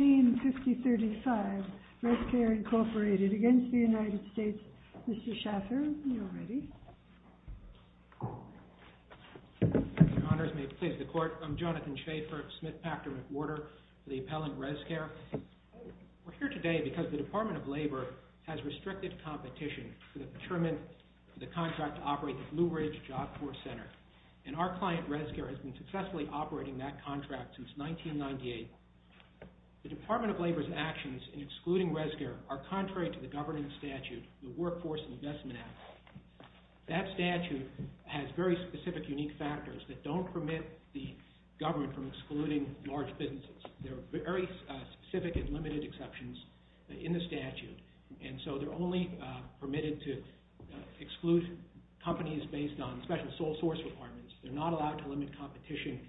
1950-35, Res-CARE, INC. v. United States. Mr. Schaffer, you are ready. Your Honors, may it please the Court. I'm Jonathan Schaffer, Smith, Packard, McWhorter for the appellant Res-CARE. We are here today because the Department of Labor has restricted competition to determine the contract to operate the Blue Ridge Job Corps Center, and our client Res-CARE has been successfully operating that contract since 1998. The Department of Labor's actions in excluding Res-CARE are contrary to the governing statute, the Workforce Investment Act. That statute has very specific, unique factors that don't permit the government from excluding large businesses. There are very specific and limited exceptions in the statute, and so they're only permitted to exclude companies based on special sole source requirements. They're not allowed to limit competition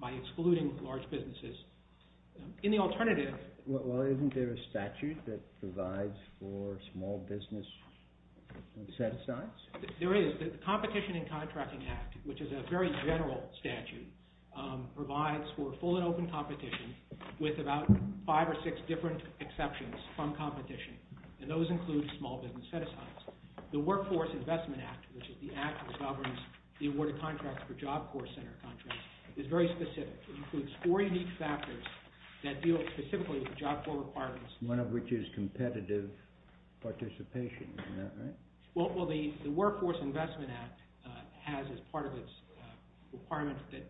by excluding large businesses. In the alternative... Well, isn't there a statute that provides for small business set-asides? There is. The Competition in Contracting Act, which is a very general statute, provides for full and open competition with about five or six different exceptions from competition, and those include small business set-asides. The Workforce Investment Act, which is the one that governs the award of contracts for Job Corps Center contracts, is very specific. It includes four unique factors that deal specifically with the Job Corps requirements. One of which is competitive participation. Isn't that right? Well, the Workforce Investment Act has as part of its requirements that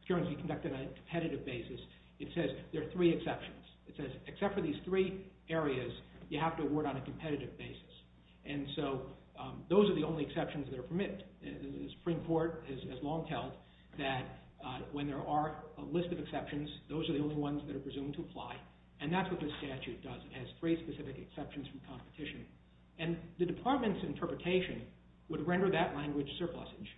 securities be conducted on a competitive basis. It says there are three exceptions. It says except for these three areas, you have to award on a competitive basis, and so those are the only exceptions that are permitted. The Supreme Court has long held that when there are a list of exceptions, those are the only ones that are presumed to apply, and that's what this statute does. It has three specific exceptions from competition, and the department's interpretation would render that language surplusage.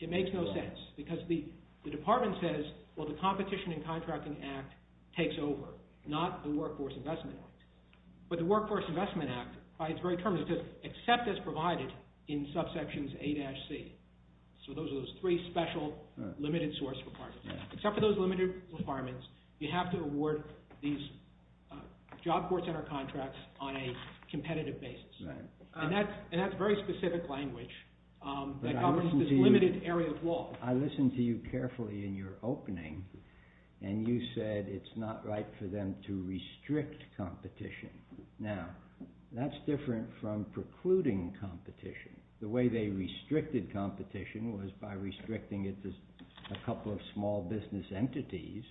It makes no sense, because the department says, well, the Competition in Contracting Act takes over, not the Workforce Investment Act. But the Workforce Investment Act, by its very terms, it says except as provided in subsections A-C. So those are those three special limited source requirements. Except for those limited requirements, you have to award these Job Corps Center contracts on a competitive basis. And that's very specific language that governs this limited area of law. I listened to you carefully in your opening, and you said it's not right for them to restrict competition. Now, that's different from precluding competition. The way they restricted competition was by restricting it to a couple of small business entities,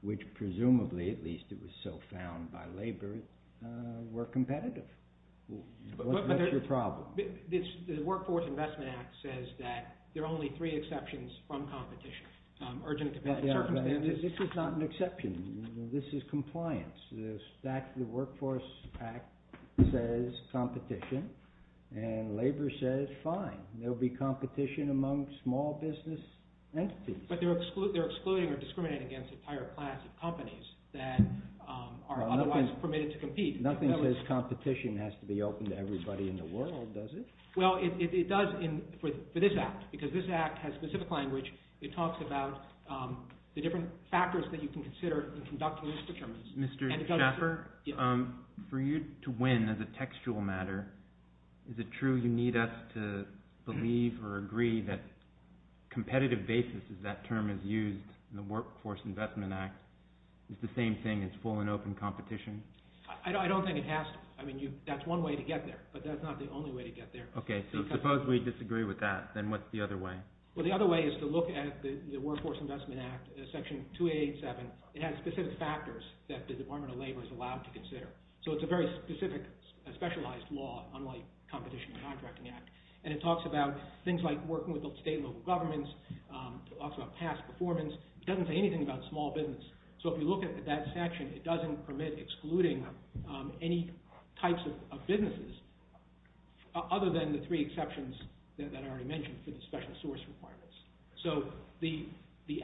which presumably, at least it was so found by labor, were competitive. What's your problem? The Workforce Investment Act says that there are only three exceptions from competition. This is not an exception. This is compliance. The Workforce Act says competition, and labor says, fine, there'll be competition among small business entities. But they're excluding or discriminating against a higher class of companies that are otherwise permitted to compete. Nothing says competition has to be open to everybody in the world, does it? Well, it does for this Act, because this Act has specific language. It talks about the different factors that you can consider in conducting these determinants. Mr. Schaffer, for you to win as a textual matter, is it true you need us to believe or agree that competitive basis, as that term is used in the Workforce Investment Act, is the same thing as full and open competition? I don't think it has to. I mean, that's one way to get there, but that's not the only way to get there. Okay, so suppose we disagree with that, then what's the other way? Well, the other way is to look at the Workforce Investment Act, Section 287. It has specific factors that the Department of Labor is allowed to consider. So it's a very specific, specialized law, unlike Competition and Contracting Act. And it talks about things like working with state and local governments. It talks about past performance. It doesn't say anything about small business. So if you look at that section, it doesn't permit excluding any types of businesses, other than the three exceptions that I already mentioned for the special source requirements. So the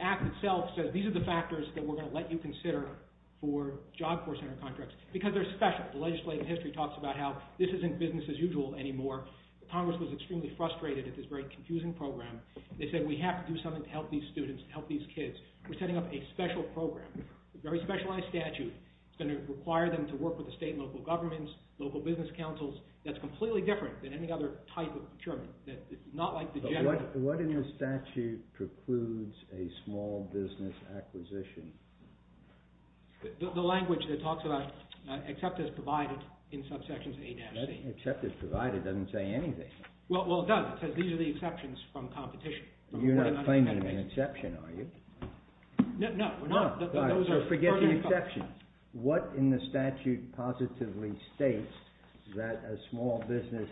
Act itself says these are the factors that we're going to let you consider for Job Corps Center contracts, because they're special. The legislative history talks about how this isn't business as usual anymore. Congress was extremely frustrated at this very confusing program. They said we have to do something to help these students, to help these kids. We're setting up a special program, a very specialized statute. It's going to require them to work with the state and local governments, local business councils. That's completely different than any other type of procurement. But what in the statute precludes a small business acquisition? The language that it talks about, except as provided, in subsections A-C. Except as provided doesn't say anything. Well, it does. It says these are the exceptions from Competition. You're not claiming an exception, are you? No, we're not. So forget the exceptions. What in the statute positively states that a small business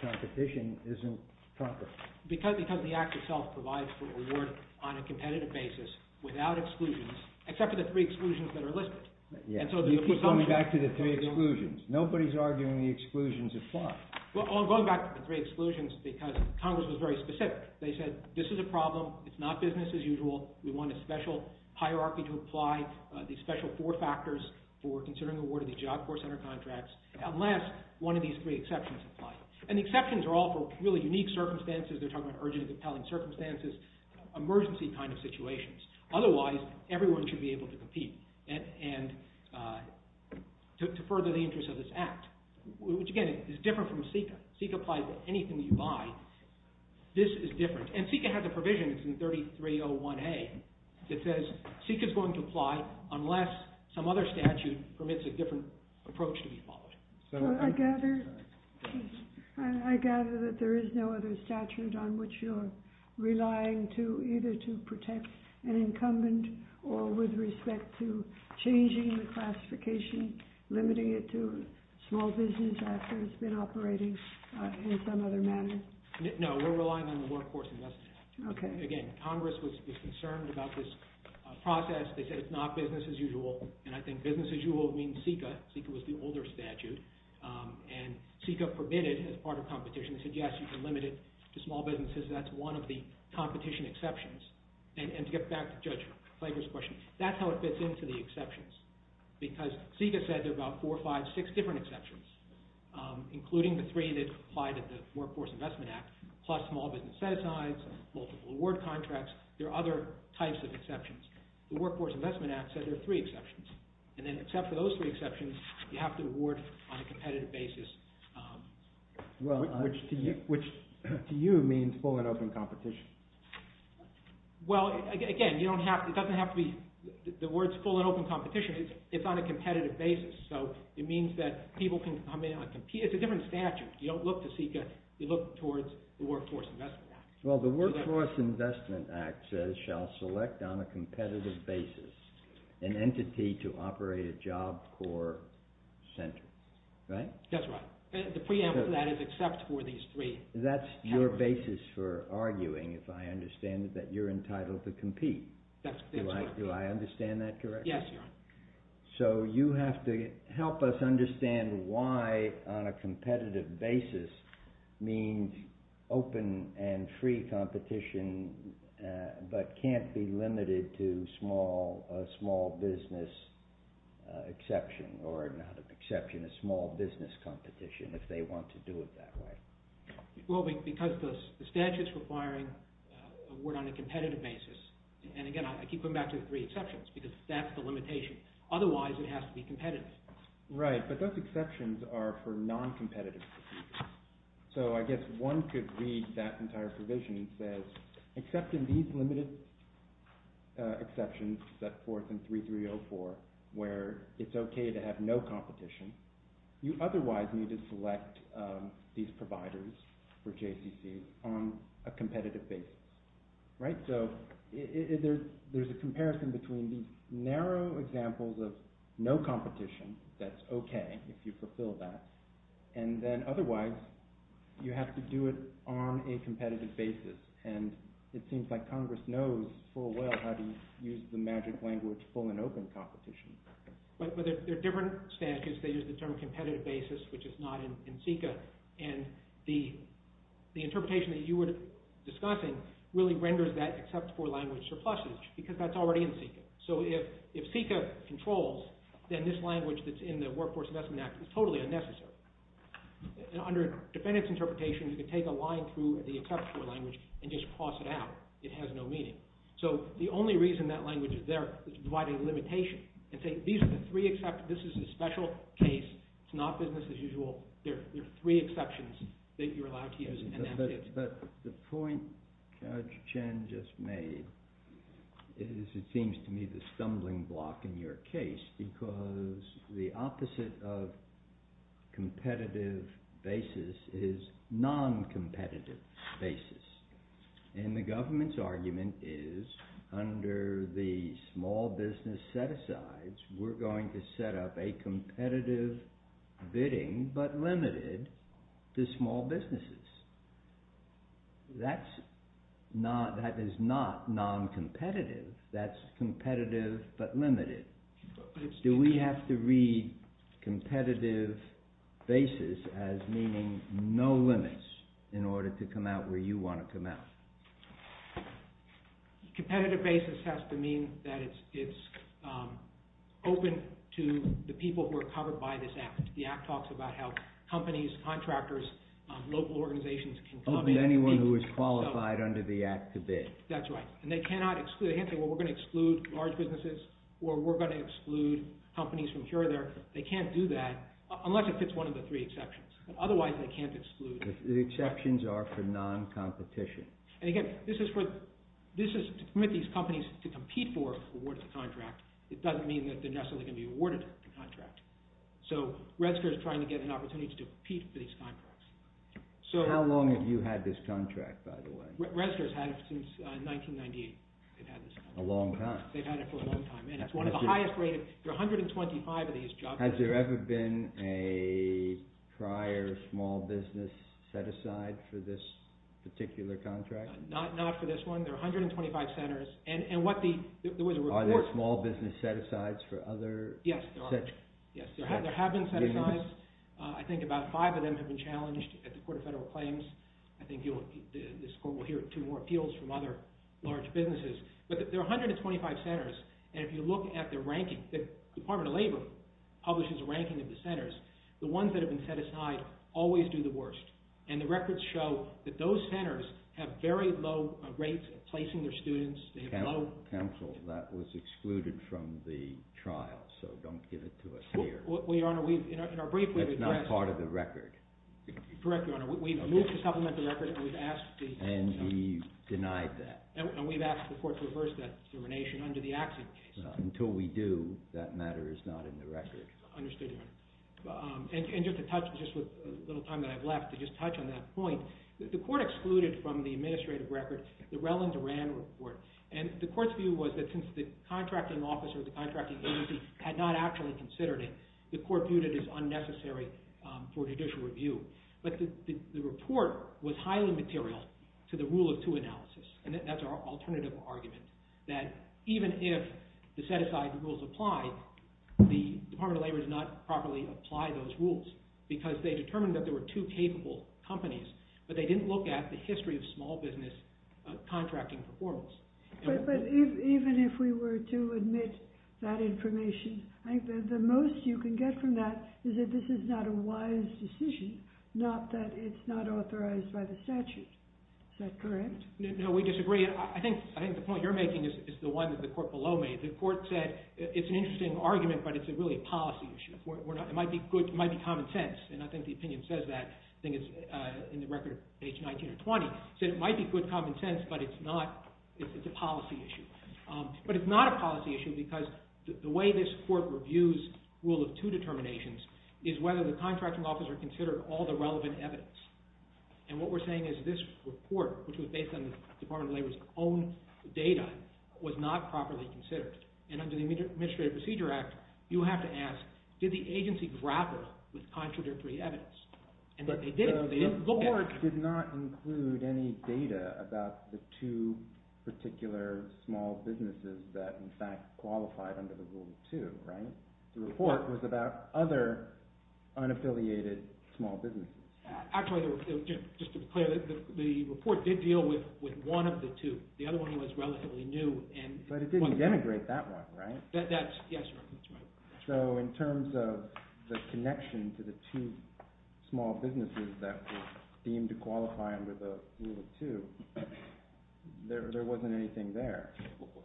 competition isn't comparable? Because the Act itself provides for reward on a competitive basis, without exclusions, except for the three exclusions that are listed. You keep going back to the three exclusions. Nobody's arguing the exclusions apply. Well, I'm going back to the three exclusions because Congress was very specific. They said this is a problem. It's not business as usual. We want a special hierarchy to apply these special four factors for considering awarding these Job Corps Center contracts, unless one of these three exceptions apply. And the exceptions are all for really unique circumstances. They're talking about urgently compelling circumstances, emergency kind of situations. Otherwise, everyone should be able to compete and to further the interests of this Act, which, again, is different from CICA. CICA applies to anything you buy. This is different. And CICA has a provision, it's in 3301A, that says CICA's going to apply unless some other statute permits a different approach to be followed. I gather that there is no other statute on which you're relying to either to protect an incumbent or with respect to changing the classification, limiting it to small business after it's been operating in some other manner. No, we're relying on the Workforce Investment Act. Okay. Again, Congress was concerned about this process. They said it's not business as usual. And I think business as usual means CICA. CICA was the older statute. And CICA permitted as part of competition. They said, yes, you can limit it to small businesses. That's one of the competition exceptions. And to get back to Judge Flager's question, that's how it fits into the exceptions. Because CICA said there are about four, five, six different exceptions, including the three that apply to the Workforce Investment Act, plus small business set-asides, multiple award contracts. There are other types of exceptions. The Workforce Investment Act said there are three exceptions. And then except for those three exceptions, you have to award on a competitive basis. Which to you means full and open competition. Well, again, it doesn't have to be the words full and open competition. It's on a competitive basis. So it means that people can come in and compete. It's a different statute. You don't look to CICA. You look towards the Workforce Investment Act. Well, the Workforce Investment Act says shall select on a competitive basis an entity to operate a job core center. Right? That's right. The preamble to that is except for these three. That's your basis for arguing, if I understand it, that you're entitled to compete. That's right. Do I understand that correctly? Yes, Your Honor. So you have to help us understand why on a competitive basis means open and free competition but can't be limited to a small business exception or not an exception, a small business competition if they want to do it that way. Well, because the statute's requiring award on a competitive basis. And again, I keep coming back to the three exceptions because that's the limitation. Otherwise, it has to be competitive. Right, but those exceptions are for non-competitive. So I guess one could read that entire provision. It says except in these limited exceptions, that fourth and 3304, where it's okay to have no competition, you otherwise need to select these providers for JCC on a competitive basis. Right? So there's a comparison between these narrow examples of no competition, that's okay if you fulfill that, and then otherwise you have to do it on a competitive basis. And it seems like Congress knows full well how to use the magic language, full and open competition. But they're different statutes. They use the term competitive basis, which is not in CICA. And the interpretation that you were discussing really renders that except for language surpluses because that's already in CICA. So if CICA controls, then this language that's in the Workforce Investment Act is totally unnecessary. And under defendant's interpretation, you can take a line through the exceptional language and just cross it out. It has no meaning. So the only reason that language is there is to divide a limitation and say these are the three exceptions. This is a special case. It's not business as usual. There are three exceptions that you're allowed to use. But the point Judge Chen just made is it seems to me the stumbling block in your case because the opposite of competitive basis is non-competitive basis. And the government's argument is under the small business set-asides, we're going to set up a competitive bidding but limited to small businesses. That is not non-competitive. That's competitive but limited. Do we have to read competitive basis as meaning no limits in order to come out where you want to come out? Competitive basis has to mean that it's open to the people who are covered by this Act. The Act talks about how companies, contractors, local organizations can come in. Open to anyone who is qualified under the Act to bid. That's right. And they can't say, well, we're going to exclude large businesses or we're going to exclude companies from here or there. They can't do that unless it fits one of the three exceptions. Otherwise, they can't exclude. The exceptions are for non-competition. And again, this is to permit these companies to compete for an awarded contract. It doesn't mean that they're necessarily going to be awarded a contract. So, Redskirts are trying to get an opportunity to compete for these contracts. How long have you had this contract, by the way? Redskirts had it since 1998. A long time. They've had it for a long time. It's one of the highest rated. There are 125 of these jobs. Has there ever been a prior small business set-aside for this particular contract? Not for this one. There are 125 centers. Are there small business set-asides for other? Yes, there are. Yes, there have been set-asides. I think about five of them have been challenged at the Court of Federal Claims. I think this Court will hear two more appeals from other large businesses. But there are 125 centers. And if you look at the ranking, the Department of Labor publishes a ranking of the centers. The ones that have been set-aside always do the worst. And the records show that those centers have very low rates of placing their students. They have low- Counsel, that was excluded from the trial. So, don't give it to us here. Well, Your Honor, we've- That's not part of the record. Correct, Your Honor. We've moved to supplement the record and we've asked the- And we denied that. And we've asked the Court to reverse that determination under the Axiom case. Until we do, that matter is not in the record. Understood, Your Honor. And just to touch- Just with a little time that I have left to just touch on that point, the Court excluded from the administrative record the Relin-Duran report. And the Court's view was that since the contracting officer or the contracting agency had not actually considered it, the Court viewed it as unnecessary for judicial review. But the report was highly material to the Rule of Two analysis. And that's our alternative argument, that even if the set-aside rules apply, the Department of Labor did not properly apply those rules because they determined that there were two capable companies, but they didn't look at the history of small business contracting performance. But even if we were to admit that information, I think that the most you can get from that is that this is not a wise decision, not that it's not authorized by the statute. Is that correct? No, we disagree. I think the point you're making is the one that the Court below made. The Court said it's an interesting argument, but it's really a policy issue. It might be common sense, and I think the opinion says that. I think it's in the record, page 19 or 20, said it might be good common sense, but it's a policy issue. But it's not a policy issue because the way this Court reviews Rule of Two determinations is whether the contracting officer considered all the relevant evidence. And what we're saying is this report, which was based on the Department of Labor's own data, was not properly considered. And under the Administrative Procedure Act, you have to ask, did the agency grapple with contradictory evidence? And they didn't. The report did not include any data about the two particular small businesses that, in fact, qualified under the Rule of Two, right? The report was about other unaffiliated small businesses. Actually, just to be clear, the report did deal with one of the two. The other one was relatively new. But it didn't denigrate that one, right? Yes, that's right. So in terms of the connection to the two small businesses that were deemed to qualify under the Rule of Two, there wasn't anything there.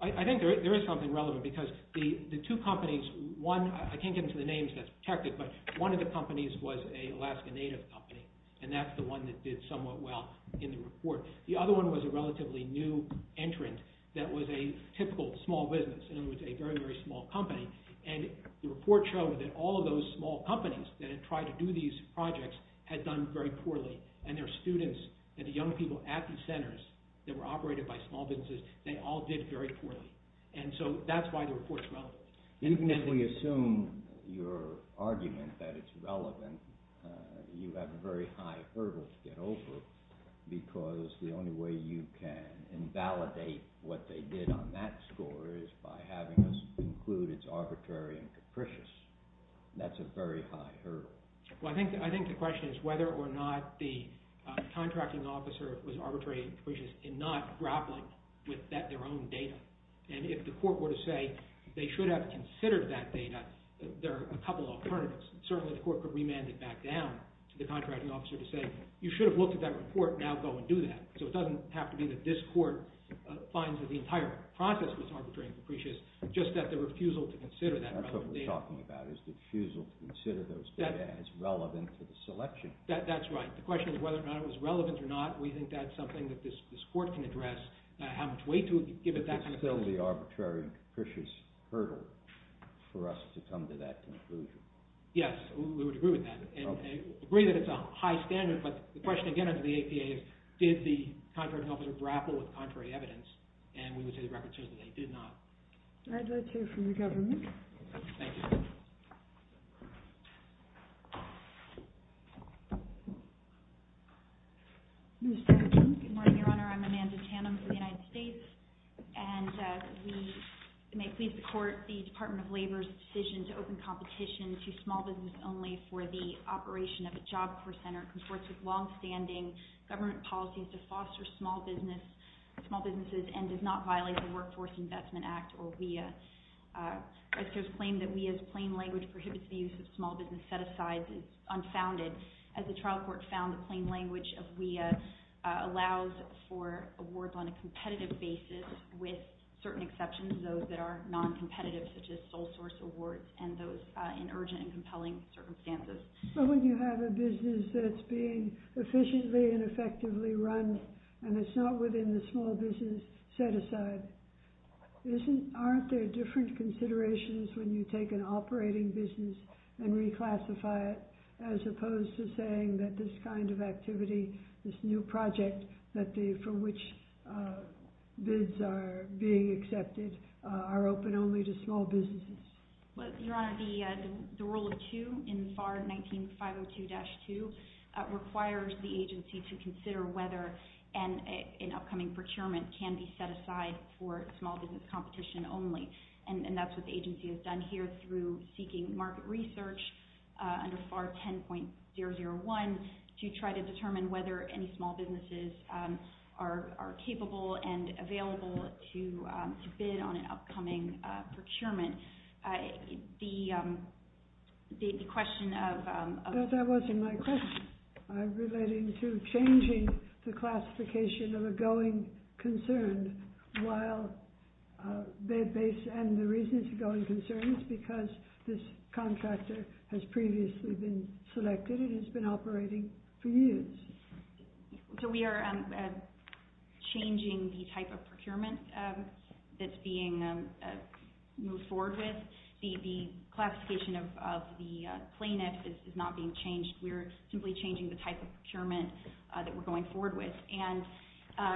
I think there is something relevant because the two companies, one, I can't get into the names that's protected, but one of the companies was an Alaska Native company, and that's the one that did somewhat well in the report. The other one was a relatively new entrant that was a typical small business, in other words, a very, very small company. And the report showed that all of those small companies that had tried to do these projects had done very poorly. And their students and the young people at the centers that were operated by small businesses, they all did very poorly. And so that's why the report's relevant. Even if we assume your argument that it's relevant, you have a very high hurdle to get over because the only way you can invalidate what they did on that score is by having us conclude it's arbitrary and capricious. That's a very high hurdle. Well, I think the question is whether or not the contracting officer was arbitrary and capricious in not grappling with their own data. And if the court were to say they should have considered that data, there are a couple of alternatives. Certainly the court could remand it back down to the contracting officer to say you should have looked at that report, now go and do that. So it doesn't have to be that this court finds that the entire process was arbitrary and capricious, just that the refusal to consider that relevant data... That's what we're talking about is the refusal to consider those data as relevant to the selection. That's right. The question is whether or not it was relevant or not. We think that's something that this court can address. It's still the arbitrary and capricious hurdle for us to come to that conclusion. Yes, we would agree with that. We agree that it's a high standard, but the question again under the APA is did the contracting officer grapple with contrary evidence, and we would say the records show that they did not. All right, that's it from the government. Thank you. Good morning, Your Honor. I'm Amanda Tannum for the United States, and we may please support the Department of Labor's decision to open competition to small business only for the operation of a Job Corps Center. It conforts with long-standing government policies to foster small businesses and does not violate the Workforce Investment Act or WEA. and that the Department of Labor's decision prohibits the use of small business set-asides is unfounded. As the trial court found, the plain language of WEA allows for awards on a competitive basis with certain exceptions, those that are non-competitive, such as sole-source awards and those in urgent and compelling circumstances. But when you have a business that's being efficiently and effectively run and it's not within the small business set-aside, aren't there different considerations when you take an operating business and reclassify it as opposed to saying that this kind of activity, this new project for which bids are being accepted, are open only to small businesses? Your Honor, the Rule of Two in FAR 19502-2 requires the agency to consider whether an upcoming procurement can be set aside for small business competition only, and that's what the agency has done here through seeking market research under FAR 10.001 to try to determine whether any small businesses are capable and available to bid on an upcoming procurement. The question of... No, that wasn't my question. I'm relating to changing the classification of a going concern while they base... And the reason it's a going concern is because this contractor has previously been selected and has been operating for years. So we are changing the type of procurement that's being moved forward with. The classification of the plaintiff is not being changed. We're simply changing the type of procurement that we're going forward with. And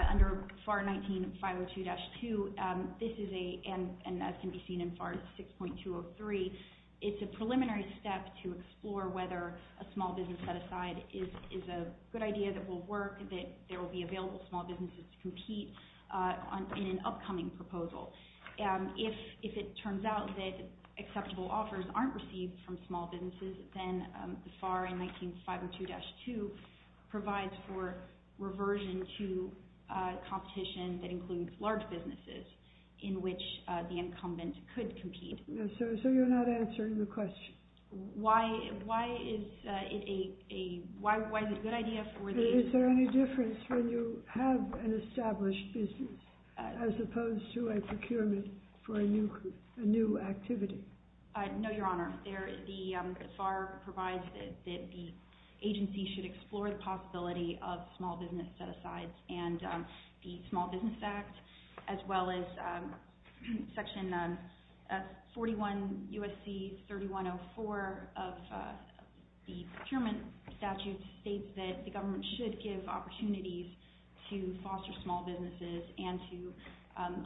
under FAR 19502-2, this is a... And as can be seen in FAR 6.203, it's a preliminary step to explore whether a small business set aside is a good idea that will work, that there will be available small businesses to compete in an upcoming proposal. If it turns out that acceptable offers aren't received from small businesses, then FAR 19502-2 provides for reversion to competition that includes large businesses in which the incumbent could compete. So you're not answering the question. Why is it a good idea for the... Is there any difference when you have an established business as opposed to a procurement for a new activity? No, Your Honor. FAR provides that the agency should explore the possibility of small business set-asides and the Small Business Act, as well as Section 41 U.S.C. 3104 of the procurement statute states that the government should give opportunities to foster small businesses and to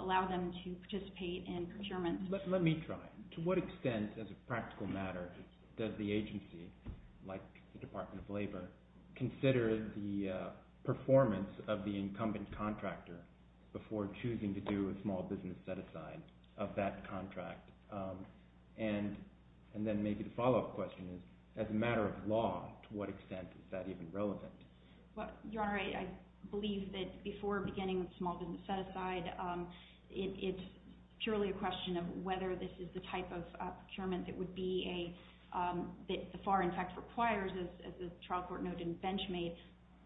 allow them to participate in procurement. Let me try. To what extent, as a practical matter, does the agency, like the Department of Labor, consider the performance of the incumbent contractor before choosing to do a small business set-aside of that contract? And then maybe the follow-up question is, as a matter of law, to what extent is that even relevant? Your Honor, I believe that before beginning a small business set-aside, it's purely a question of whether this is the type of procurement that would be a... that the FAR, in fact, requires, as the trial court noted in Benchmade,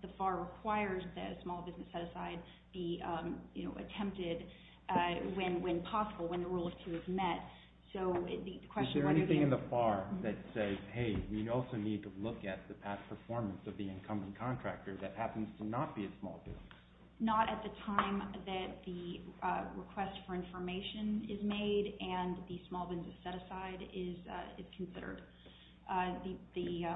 the FAR requires that a small business set-aside be, you know, attempted when possible, when the rule of two is met. So the question... Is there anything in the FAR that says, hey, we also need to look at the past performance of the incumbent contractor that happens to not be a small business? Not at the time that the request for information is made and the small business set-aside is considered. The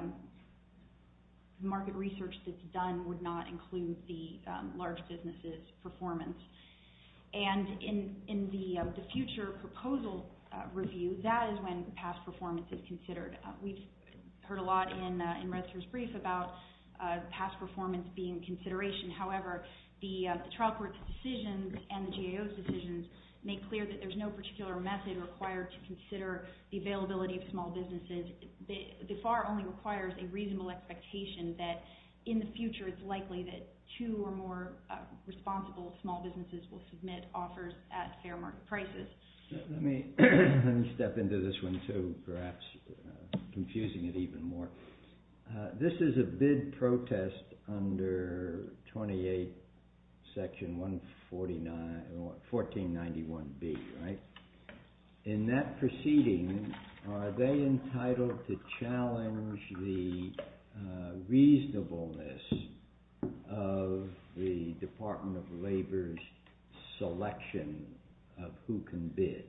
market research that's done would not include the large business's performance. And in the future proposal review, that is when past performance is considered. We've heard a lot in Redster's brief about past performance being consideration. However, the trial court's decisions and the GAO's decisions make clear that there's no particular method required to consider the availability of small businesses. The FAR only requires a reasonable expectation that in the future it's likely that two or more responsible small businesses will submit offers at fair market prices. Let me step into this one too, perhaps confusing it even more. This is a bid protest under 28 section 1491B, right? In that proceeding, are they entitled to challenge the reasonableness of the Department of Labor's selection of who can bid?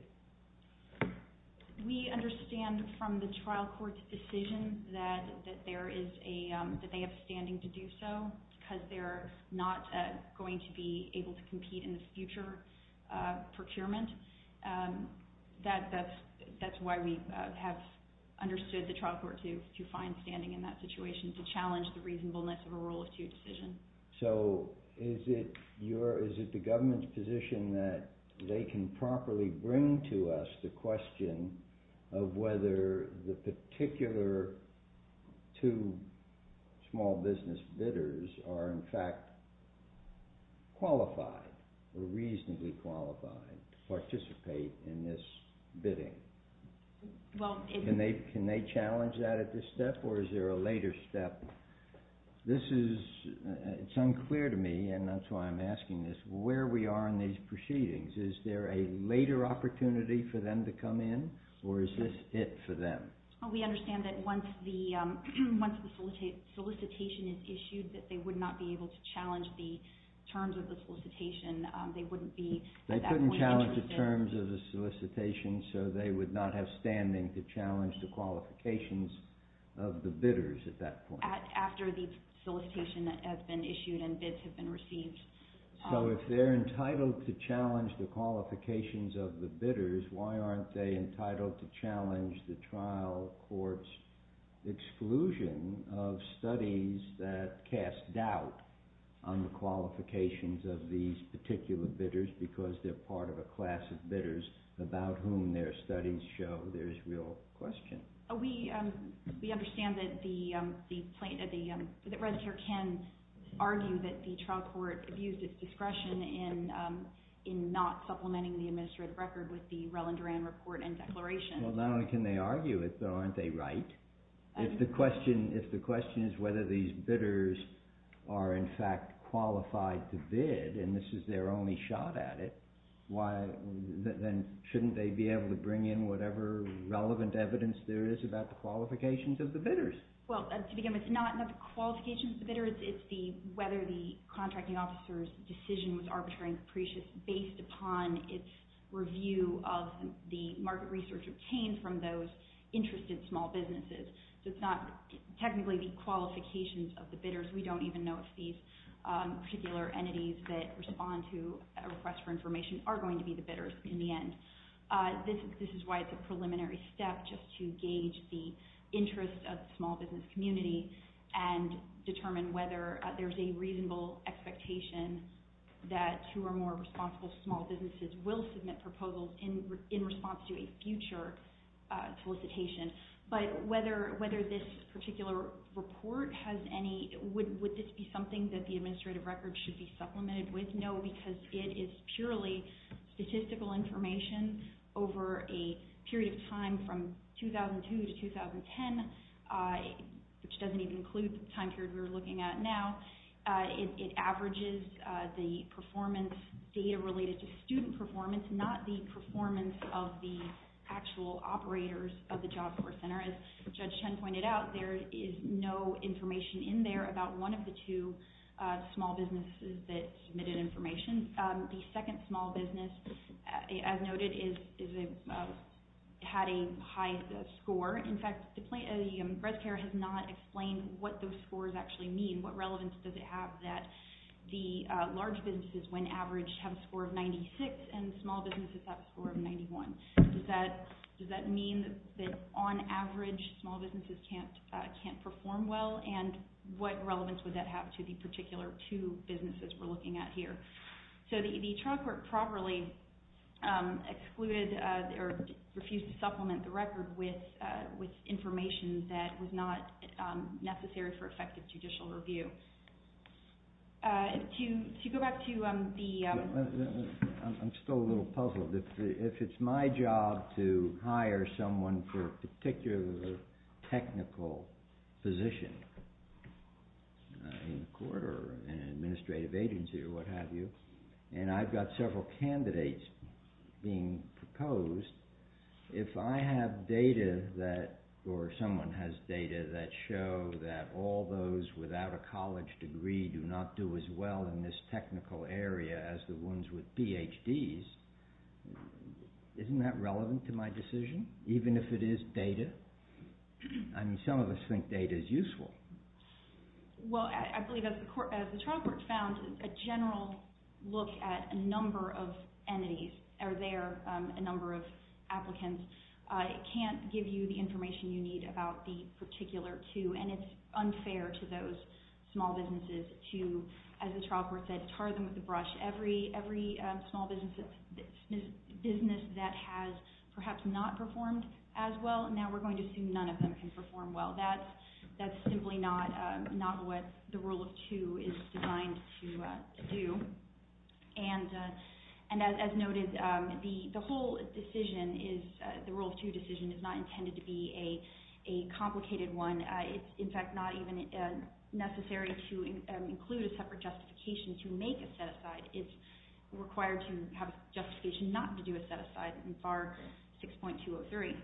We understand from the trial court's decision that they have standing to do so because they're not going to be able to compete in the future procurement. That's why we have understood the trial court to find standing in that situation to challenge the reasonableness of a Rule of Two decision. So is it the government's position that they can properly bring to us the question of whether the particular two small business bidders are in fact qualified or reasonably qualified to participate in this bidding? Can they challenge that at this step or is there a later step? It's unclear to me, and that's why I'm asking this, where we are in these proceedings. Is there a later opportunity for them to come in or is this it for them? We understand that once the solicitation is issued that they would not be able to challenge the terms of the solicitation. They couldn't challenge the terms of the solicitation so they would not have standing to challenge the qualifications of the bidders at that point. After the solicitation has been issued and bids have been received. So if they're entitled to challenge the qualifications of the bidders, why aren't they entitled to challenge the trial court's exclusion of studies that cast doubt on the qualifications of these particular bidders because they're part of a class of bidders about whom their studies show there's real question. We understand that the register can argue that the trial court abused its discretion in not supplementing the administrative record with the Rell and Duran report and declaration. Not only can they argue it though, aren't they right? If the question is whether these bidders are in fact qualified to bid, and this is their only shot at it, then shouldn't they be able to bring in whatever relevant evidence there is To begin with, it's not the qualifications of the bidders, it's whether the contracting officer's decision was arbitrary and capricious based upon its review of the market research obtained from those interested small businesses. So it's not technically the qualifications of the bidders. We don't even know if these particular entities that respond to a request for information are going to be the bidders in the end. This is why it's a preliminary step just to gauge the interest of the small business community and determine whether there's a reasonable expectation that two or more responsible small businesses will submit proposals in response to a future solicitation. But whether this particular report has any... Would this be something that the administrative record should be supplemented with? No, because it is purely statistical information over a period of time from 2002 to 2010, which doesn't even include the time period we're looking at now. It averages the performance data related to student performance, not the performance of the actual operators of the Job Corps Center. As Judge Chen pointed out, there is no information in there about one of the two small businesses that submitted information. The second small business, as noted, had a high score. In fact, the Breast Care has not explained what those scores actually mean. What relevance does it have that the large businesses, when averaged, have a score of 96 and small businesses have a score of 91? Does that mean that, on average, small businesses can't perform well? And what relevance would that have to the particular two businesses we're looking at here? So the child court properly excluded or refused to supplement the record with information that was not necessary for effective judicial review. To go back to the... I'm still a little puzzled. If it's my job to hire someone for a particular technical position in the court or an administrative agency or what have you, and I've got several candidates being proposed, if I have data or someone has data that show that all those without a college degree do not do as well in this technical area as the ones with PhDs, isn't that relevant to my decision, even if it is data? I mean, some of us think data is useful. Well, I believe, as the child court found, a general look at a number of entities, or there, a number of applicants, can't give you the information you need about the particular two, and it's unfair to those small businesses to, as the child court said, tar them with a brush. Every small business that has perhaps not performed as well, now we're going to assume none of them can perform well. That's simply not what the rule of two is designed to do. And as noted, the whole decision, the rule of two decision, is not intended to be a complicated one. It's, in fact, not even necessary to include a separate justification to make a set-aside. It's required to have a justification not to do a set-aside in FAR 6.203.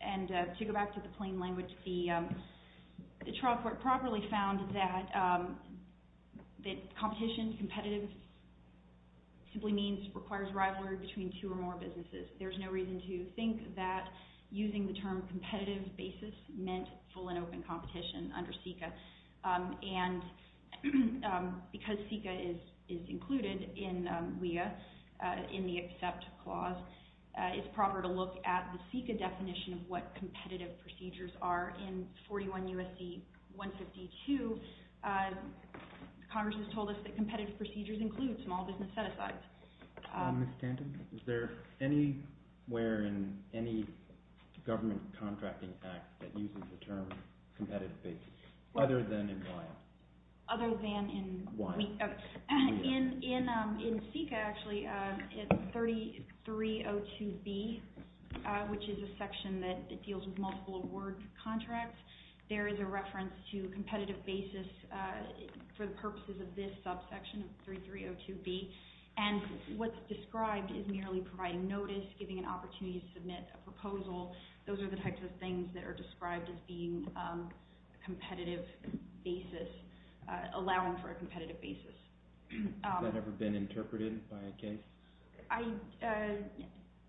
And to go back to the plain language, the child court properly found that competition, competitive, simply means requires rivalry between two or more businesses. There's no reason to think that using the term competitive basis meant full and open competition under CICA. And because CICA is included in WEA, in the accept clause, it's proper to look at the CICA definition of what competitive procedures are. In 41 U.S.C. 152, Congress has told us that competitive procedures include small business set-asides. Ms. Tanton, is there anywhere in any government contracting act that uses the term competitive basis, other than in WEA? Other than in WEA? In CICA, actually, it's 3302B, which is a section that deals with multiple award contracts. There is a reference to competitive basis for the purposes of this subsection, 3302B. And what's described is merely providing notice, giving an opportunity to submit a proposal. Those are the types of things that are described as being competitive basis, allowing for a competitive basis. Has that ever been interpreted by a case? I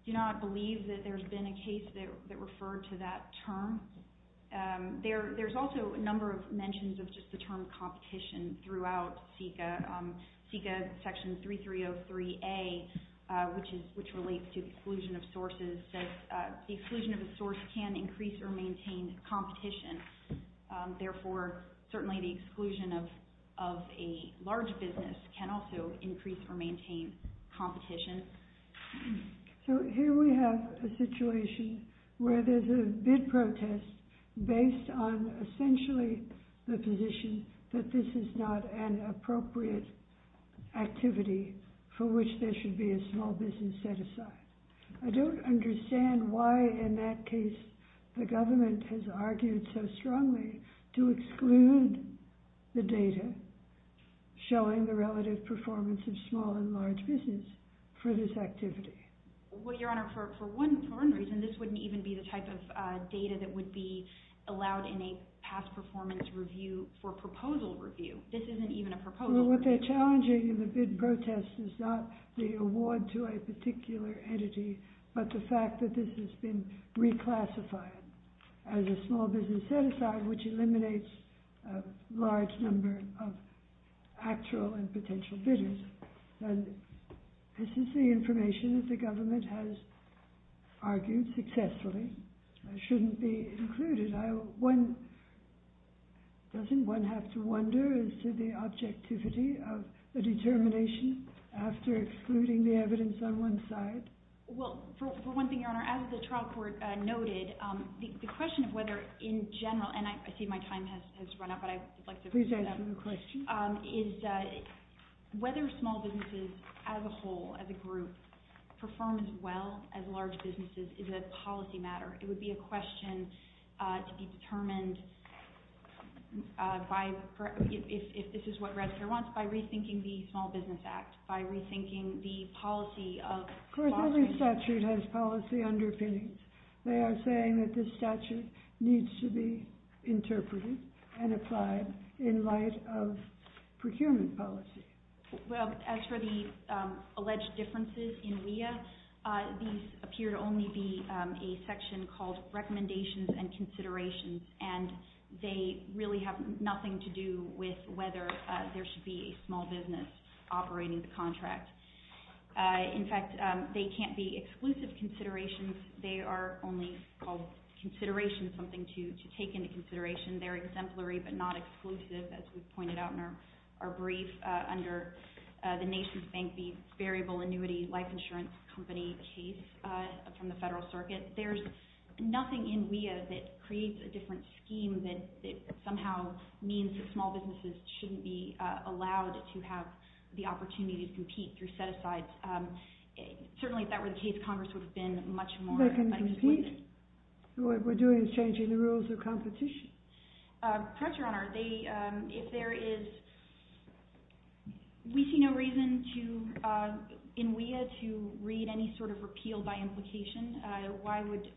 do not believe that there's been a case that referred to that term. There's also a number of mentions of just the term competition throughout CICA. CICA section 3303A, which relates to the exclusion of sources, says the exclusion of a source can increase or maintain competition. Therefore, certainly the exclusion of a large business can also increase or maintain competition. So here we have a situation where there's a bid protest based on essentially the position that this is not an appropriate activity for which there should be a small business set aside. I don't understand why in that case the government has argued so strongly to exclude the data showing the relative performance of small and large business for this activity. Well, Your Honor, for one reason, this wouldn't even be the type of data that would be allowed in a past performance review for proposal review. This isn't even a proposal review. Well, what they're challenging in the bid protest is not the award to a particular entity, but the fact that this has been reclassified as a small business set aside, which eliminates a large number of actual and potential bidders. And this is the information that the government has argued successfully shouldn't be included. Doesn't one have to wonder as to the objectivity of the determination after excluding the evidence on one side? Well, for one thing, Your Honor, as the trial court noted, the question of whether in general, and I see my time has run out, but I'd like to... Please answer the question. ...is whether small businesses as a whole, as a group, perform as well as large businesses is a policy matter. It would be a question to be determined by, if this is what Radcliffe wants, by rethinking the Small Business Act, by rethinking the policy of... Of course, every statute has policy underpinnings. They are saying that this statute needs to be interpreted and applied in light of procurement policy. Well, as for the alleged differences in WEA, these appear to only be a section called Recommendations and Considerations, and they really have nothing to do with whether there should be a small business operating the contract. In fact, they can't be exclusive considerations. They are only called considerations, something to take into consideration. They're exemplary but not exclusive, as we've pointed out in our brief under the Nation's Bank, the Variable Annuity Life Insurance Company case from the Federal Circuit. There's nothing in WEA that creates a different scheme that somehow means that small businesses shouldn't be allowed to have the opportunity to compete through set-asides. Certainly, if that were the case, Congress would have been much more... They can compete. What we're doing is changing the rules of competition. Perhaps, Your Honor, if there is... We see no reason in WEA to read any sort of repeal by implication. Why would...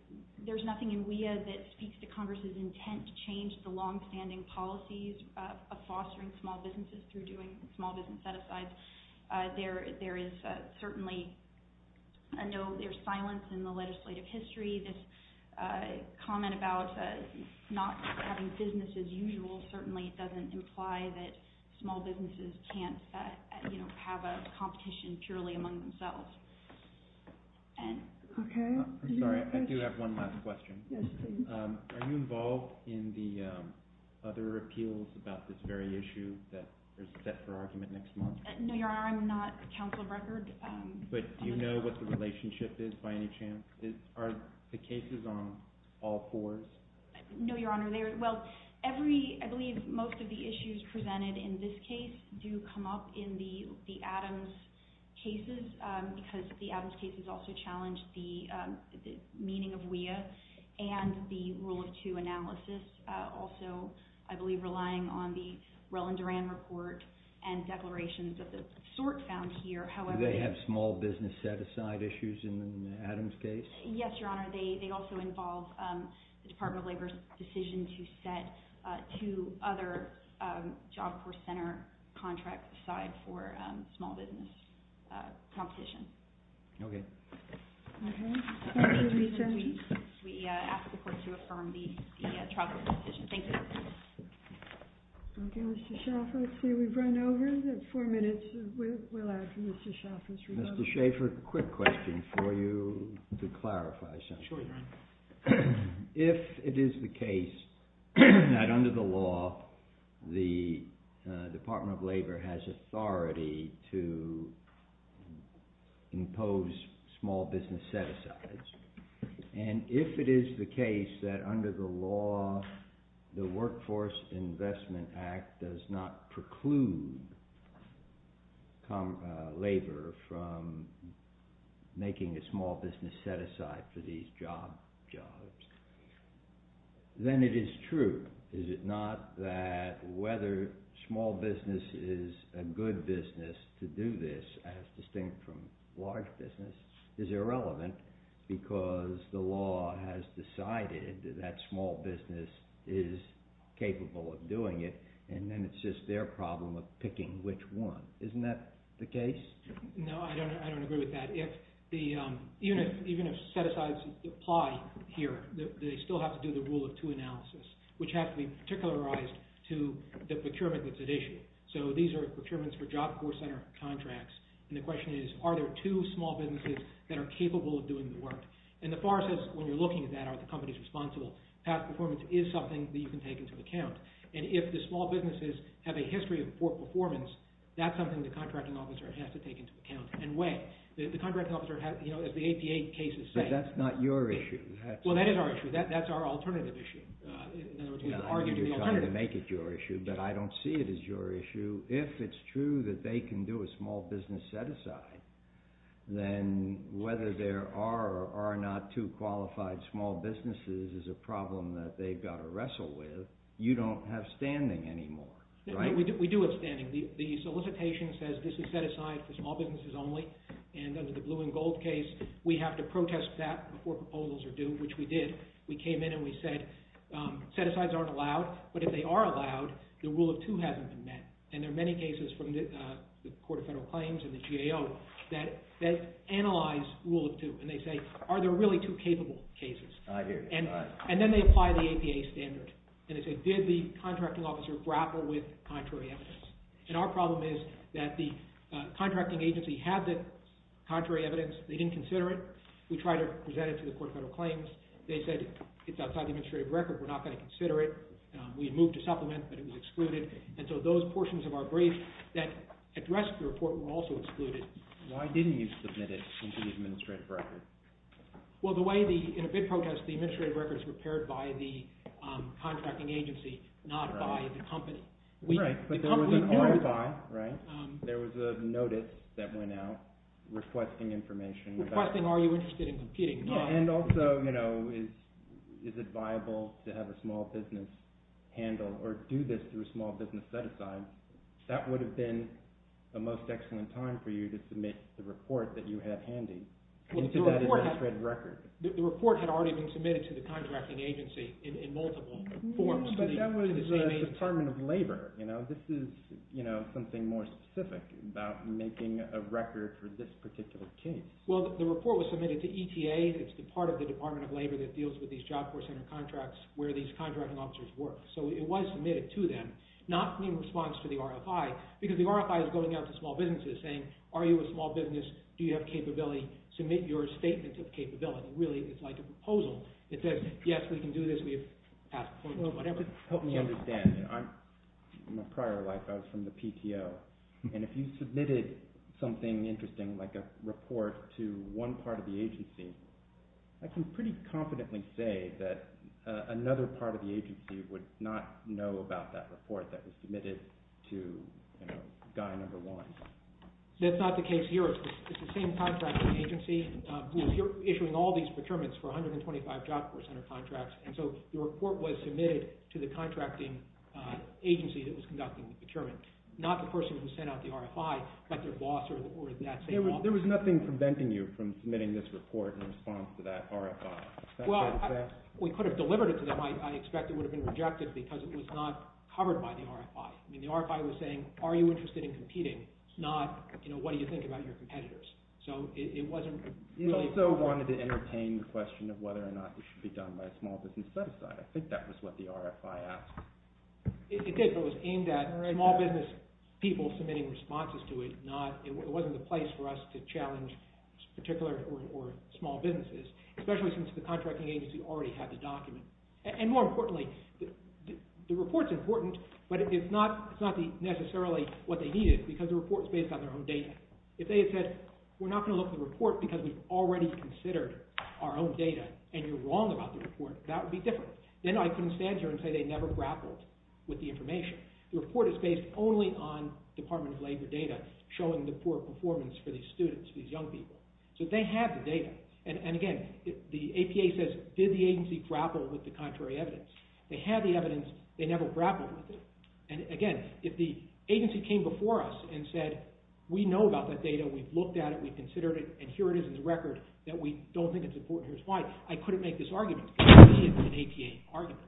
There's nothing in WEA that speaks to Congress's intent to change the long-standing policies of fostering small businesses through doing small business set-asides. There is certainly a note... There's silence in the legislative history. This comment about not having business as usual certainly doesn't imply that small businesses can't have a competition purely among themselves. I'm sorry. I do have one last question. Are you involved in the other appeals about this very issue that is set for argument next month? No, Your Honor. I'm not a counsel of record. But do you know what the relationship is by any chance? Are the cases on all fours? No, Your Honor. Well, every... I believe most of the issues presented in this case do come up in the Adams cases because the Adams cases also challenge the meaning of WEA and the Rule of Two analysis. Also, I believe relying on the Rell and Duran report and declarations of the sort found here, however... Do they have small business set-aside issues in the Adams case? Yes, Your Honor. They also involve the Department of Labor's decision to set two other Job Corps Center contracts aside for small business competition. Okay. Okay. Thank you, Lisa. We ask the Court to affirm the trial court decision. Thank you. Okay, Mr. Shaffer. Let's see, we've run over four minutes. We'll ask Mr. Shaffer's rebuttal. Mr. Shaffer, a quick question for you to clarify something. Sure, Your Honor. If it is the case that under the law the Department of Labor has authority to impose small business set-asides, and if it is the case that under the law the Workforce Investment Act does not preclude labor from making a small business set-aside for these job jobs, then it is true. Is it not that whether small business is a good business to do this, as distinct from large business, is irrelevant because the law has decided that small business is capable of doing it, and then it's just their problem of picking which one. Isn't that the case? No, I don't agree with that. Even if set-asides apply here, they still have to do the rule of two analysis, which has to be particularized to the procurement that's at issue. So these are procurements for Job Corps Center contracts, and the question is, are there two small businesses that are capable of doing the work? And the FAR says, when you're looking at that, are the companies responsible? Past performance is something that you can take into account, and if the small businesses have a history of poor performance, that's something the contracting officer has to take into account and weigh. The contracting officer, as the APA case is saying... But that's not your issue. Well, that is our issue. That's our alternative issue. I know you're trying to make it your issue, but I don't see it as your issue. If it's true that they can do a small business set-aside, then whether there are or are not two qualified small businesses is a problem that they've got to wrestle with. You don't have standing anymore, right? We do have standing. The solicitation says this is set-aside for small businesses only, and under the blue and gold case, we have to protest that before proposals are due, which we did. We came in and we said set-asides aren't allowed, but if they are allowed, the rule of two hasn't been met. And there are many cases from the Court of Federal Claims and the GAO that analyze rule of two, and they say are there really two capable cases? I hear you. And then they apply the APA standard, and they say did the contracting officer grapple with contrary evidence? And our problem is that the contracting agency had the contrary evidence. They didn't consider it. We tried to present it to the Court of Federal Claims. They said it's outside the administrative record. We're not going to consider it. We moved to supplement, but it was excluded. And so those portions of our brief that address the report were also excluded. Why didn't you submit it into the administrative record? Well, in a bid protest, the administrative record is prepared by the contracting agency, not by the company. Right, but there was an RFI, right? There was a notice that went out requesting information. Requesting are you interested in competing? And also, you know, is it viable to have a small business handle or do this through a small business set-aside? That would have been the most excellent time for you to submit the report that you had handy. The report had already been submitted to the contracting agency in multiple forms. But that was the Department of Labor. You know, this is something more specific about making a record for this particular case. Well, the report was submitted to ETA. It's the part of the Department of Labor that deals with these Job Corps Center contracts where these contracting officers work. So it was submitted to them, not in response to the RFI, because the RFI is going out to small businesses saying, are you a small business? Do you have capability? Submit your statement of capability. Really, it's like a proposal. It says, yes, we can do this. We have passed a point or whatever. Help me understand. In my prior life, I was from the PTO. And if you submitted something interesting like a report to one part of the agency, I can pretty confidently say that another part of the agency would not know about that report that was submitted to guy number one. That's not the case here. It's the same contracting agency who is issuing all these procurements for 125 Job Corps Center contracts. And so the report was submitted to the contracting agency that was conducting the procurement, not the person who sent out the RFI, but their boss or that same boss. There was nothing preventing you from submitting this report in response to that RFI. Well, we could have delivered it to them. I expect it would have been rejected because it was not covered by the RFI. The RFI was saying, are you interested in competing, not what do you think about your competitors? So it wasn't really... You also wanted to entertain the question of whether or not it should be done by a small business set-aside. I think that was what the RFI asked. It did, but it was aimed at small business people submitting responses to it, not it wasn't the place for us to challenge particular or small businesses, especially since the contracting agency already had the document. And more importantly, the report's important, but it's not necessarily what they needed because the report's based on their own data. If they had said, we're not going to look at the report because we've already considered our own data and you're wrong about the report, that would be different. Then I couldn't stand here and say they never grappled with the information. The report is based only on Department of Labor data showing the poor performance for these students, these young people. So they had the data. And again, the APA says, did the agency grapple with the contrary evidence? They had the evidence, they never grappled with it. And again, if the agency came before us and said, we know about that data, we've looked at it, we've considered it, and here it is in the record that we don't think it's important, here's why. I couldn't make this argument. It would be an APA argument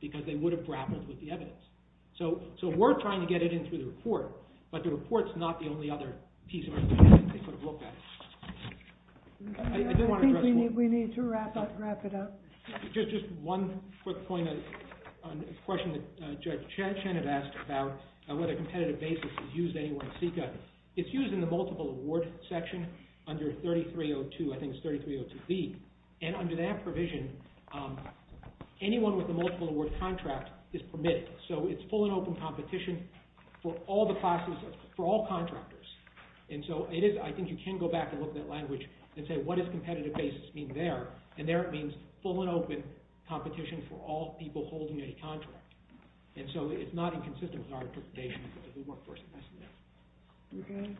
because they would have grappled with the evidence. So we're trying to get it in through the report, but the report's not the only other piece of information they could have looked at. I just want to address one... I think we need to wrap it up. Just one quick point, a question that Judge Chen had asked about whether competitive basis is used anywhere in SECA. It's used in the multiple award section under 3302, I think it's 3302B. And under that provision, anyone with a multiple award contract is permitted. So it's full and open competition for all the classes, for all contractors. And so I think you can go back and look at that language and say, what does competitive basis mean there? And there it means full and open competition for all people holding a contract. And so it's not inconsistent with our interpretation, because we work for SECA. Okay.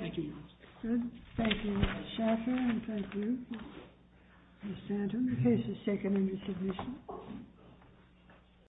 Thank you, Your Honor. Good. Thank you, Mr. Schaffer, and thank you, Mr. Anton. The case is taken into submission.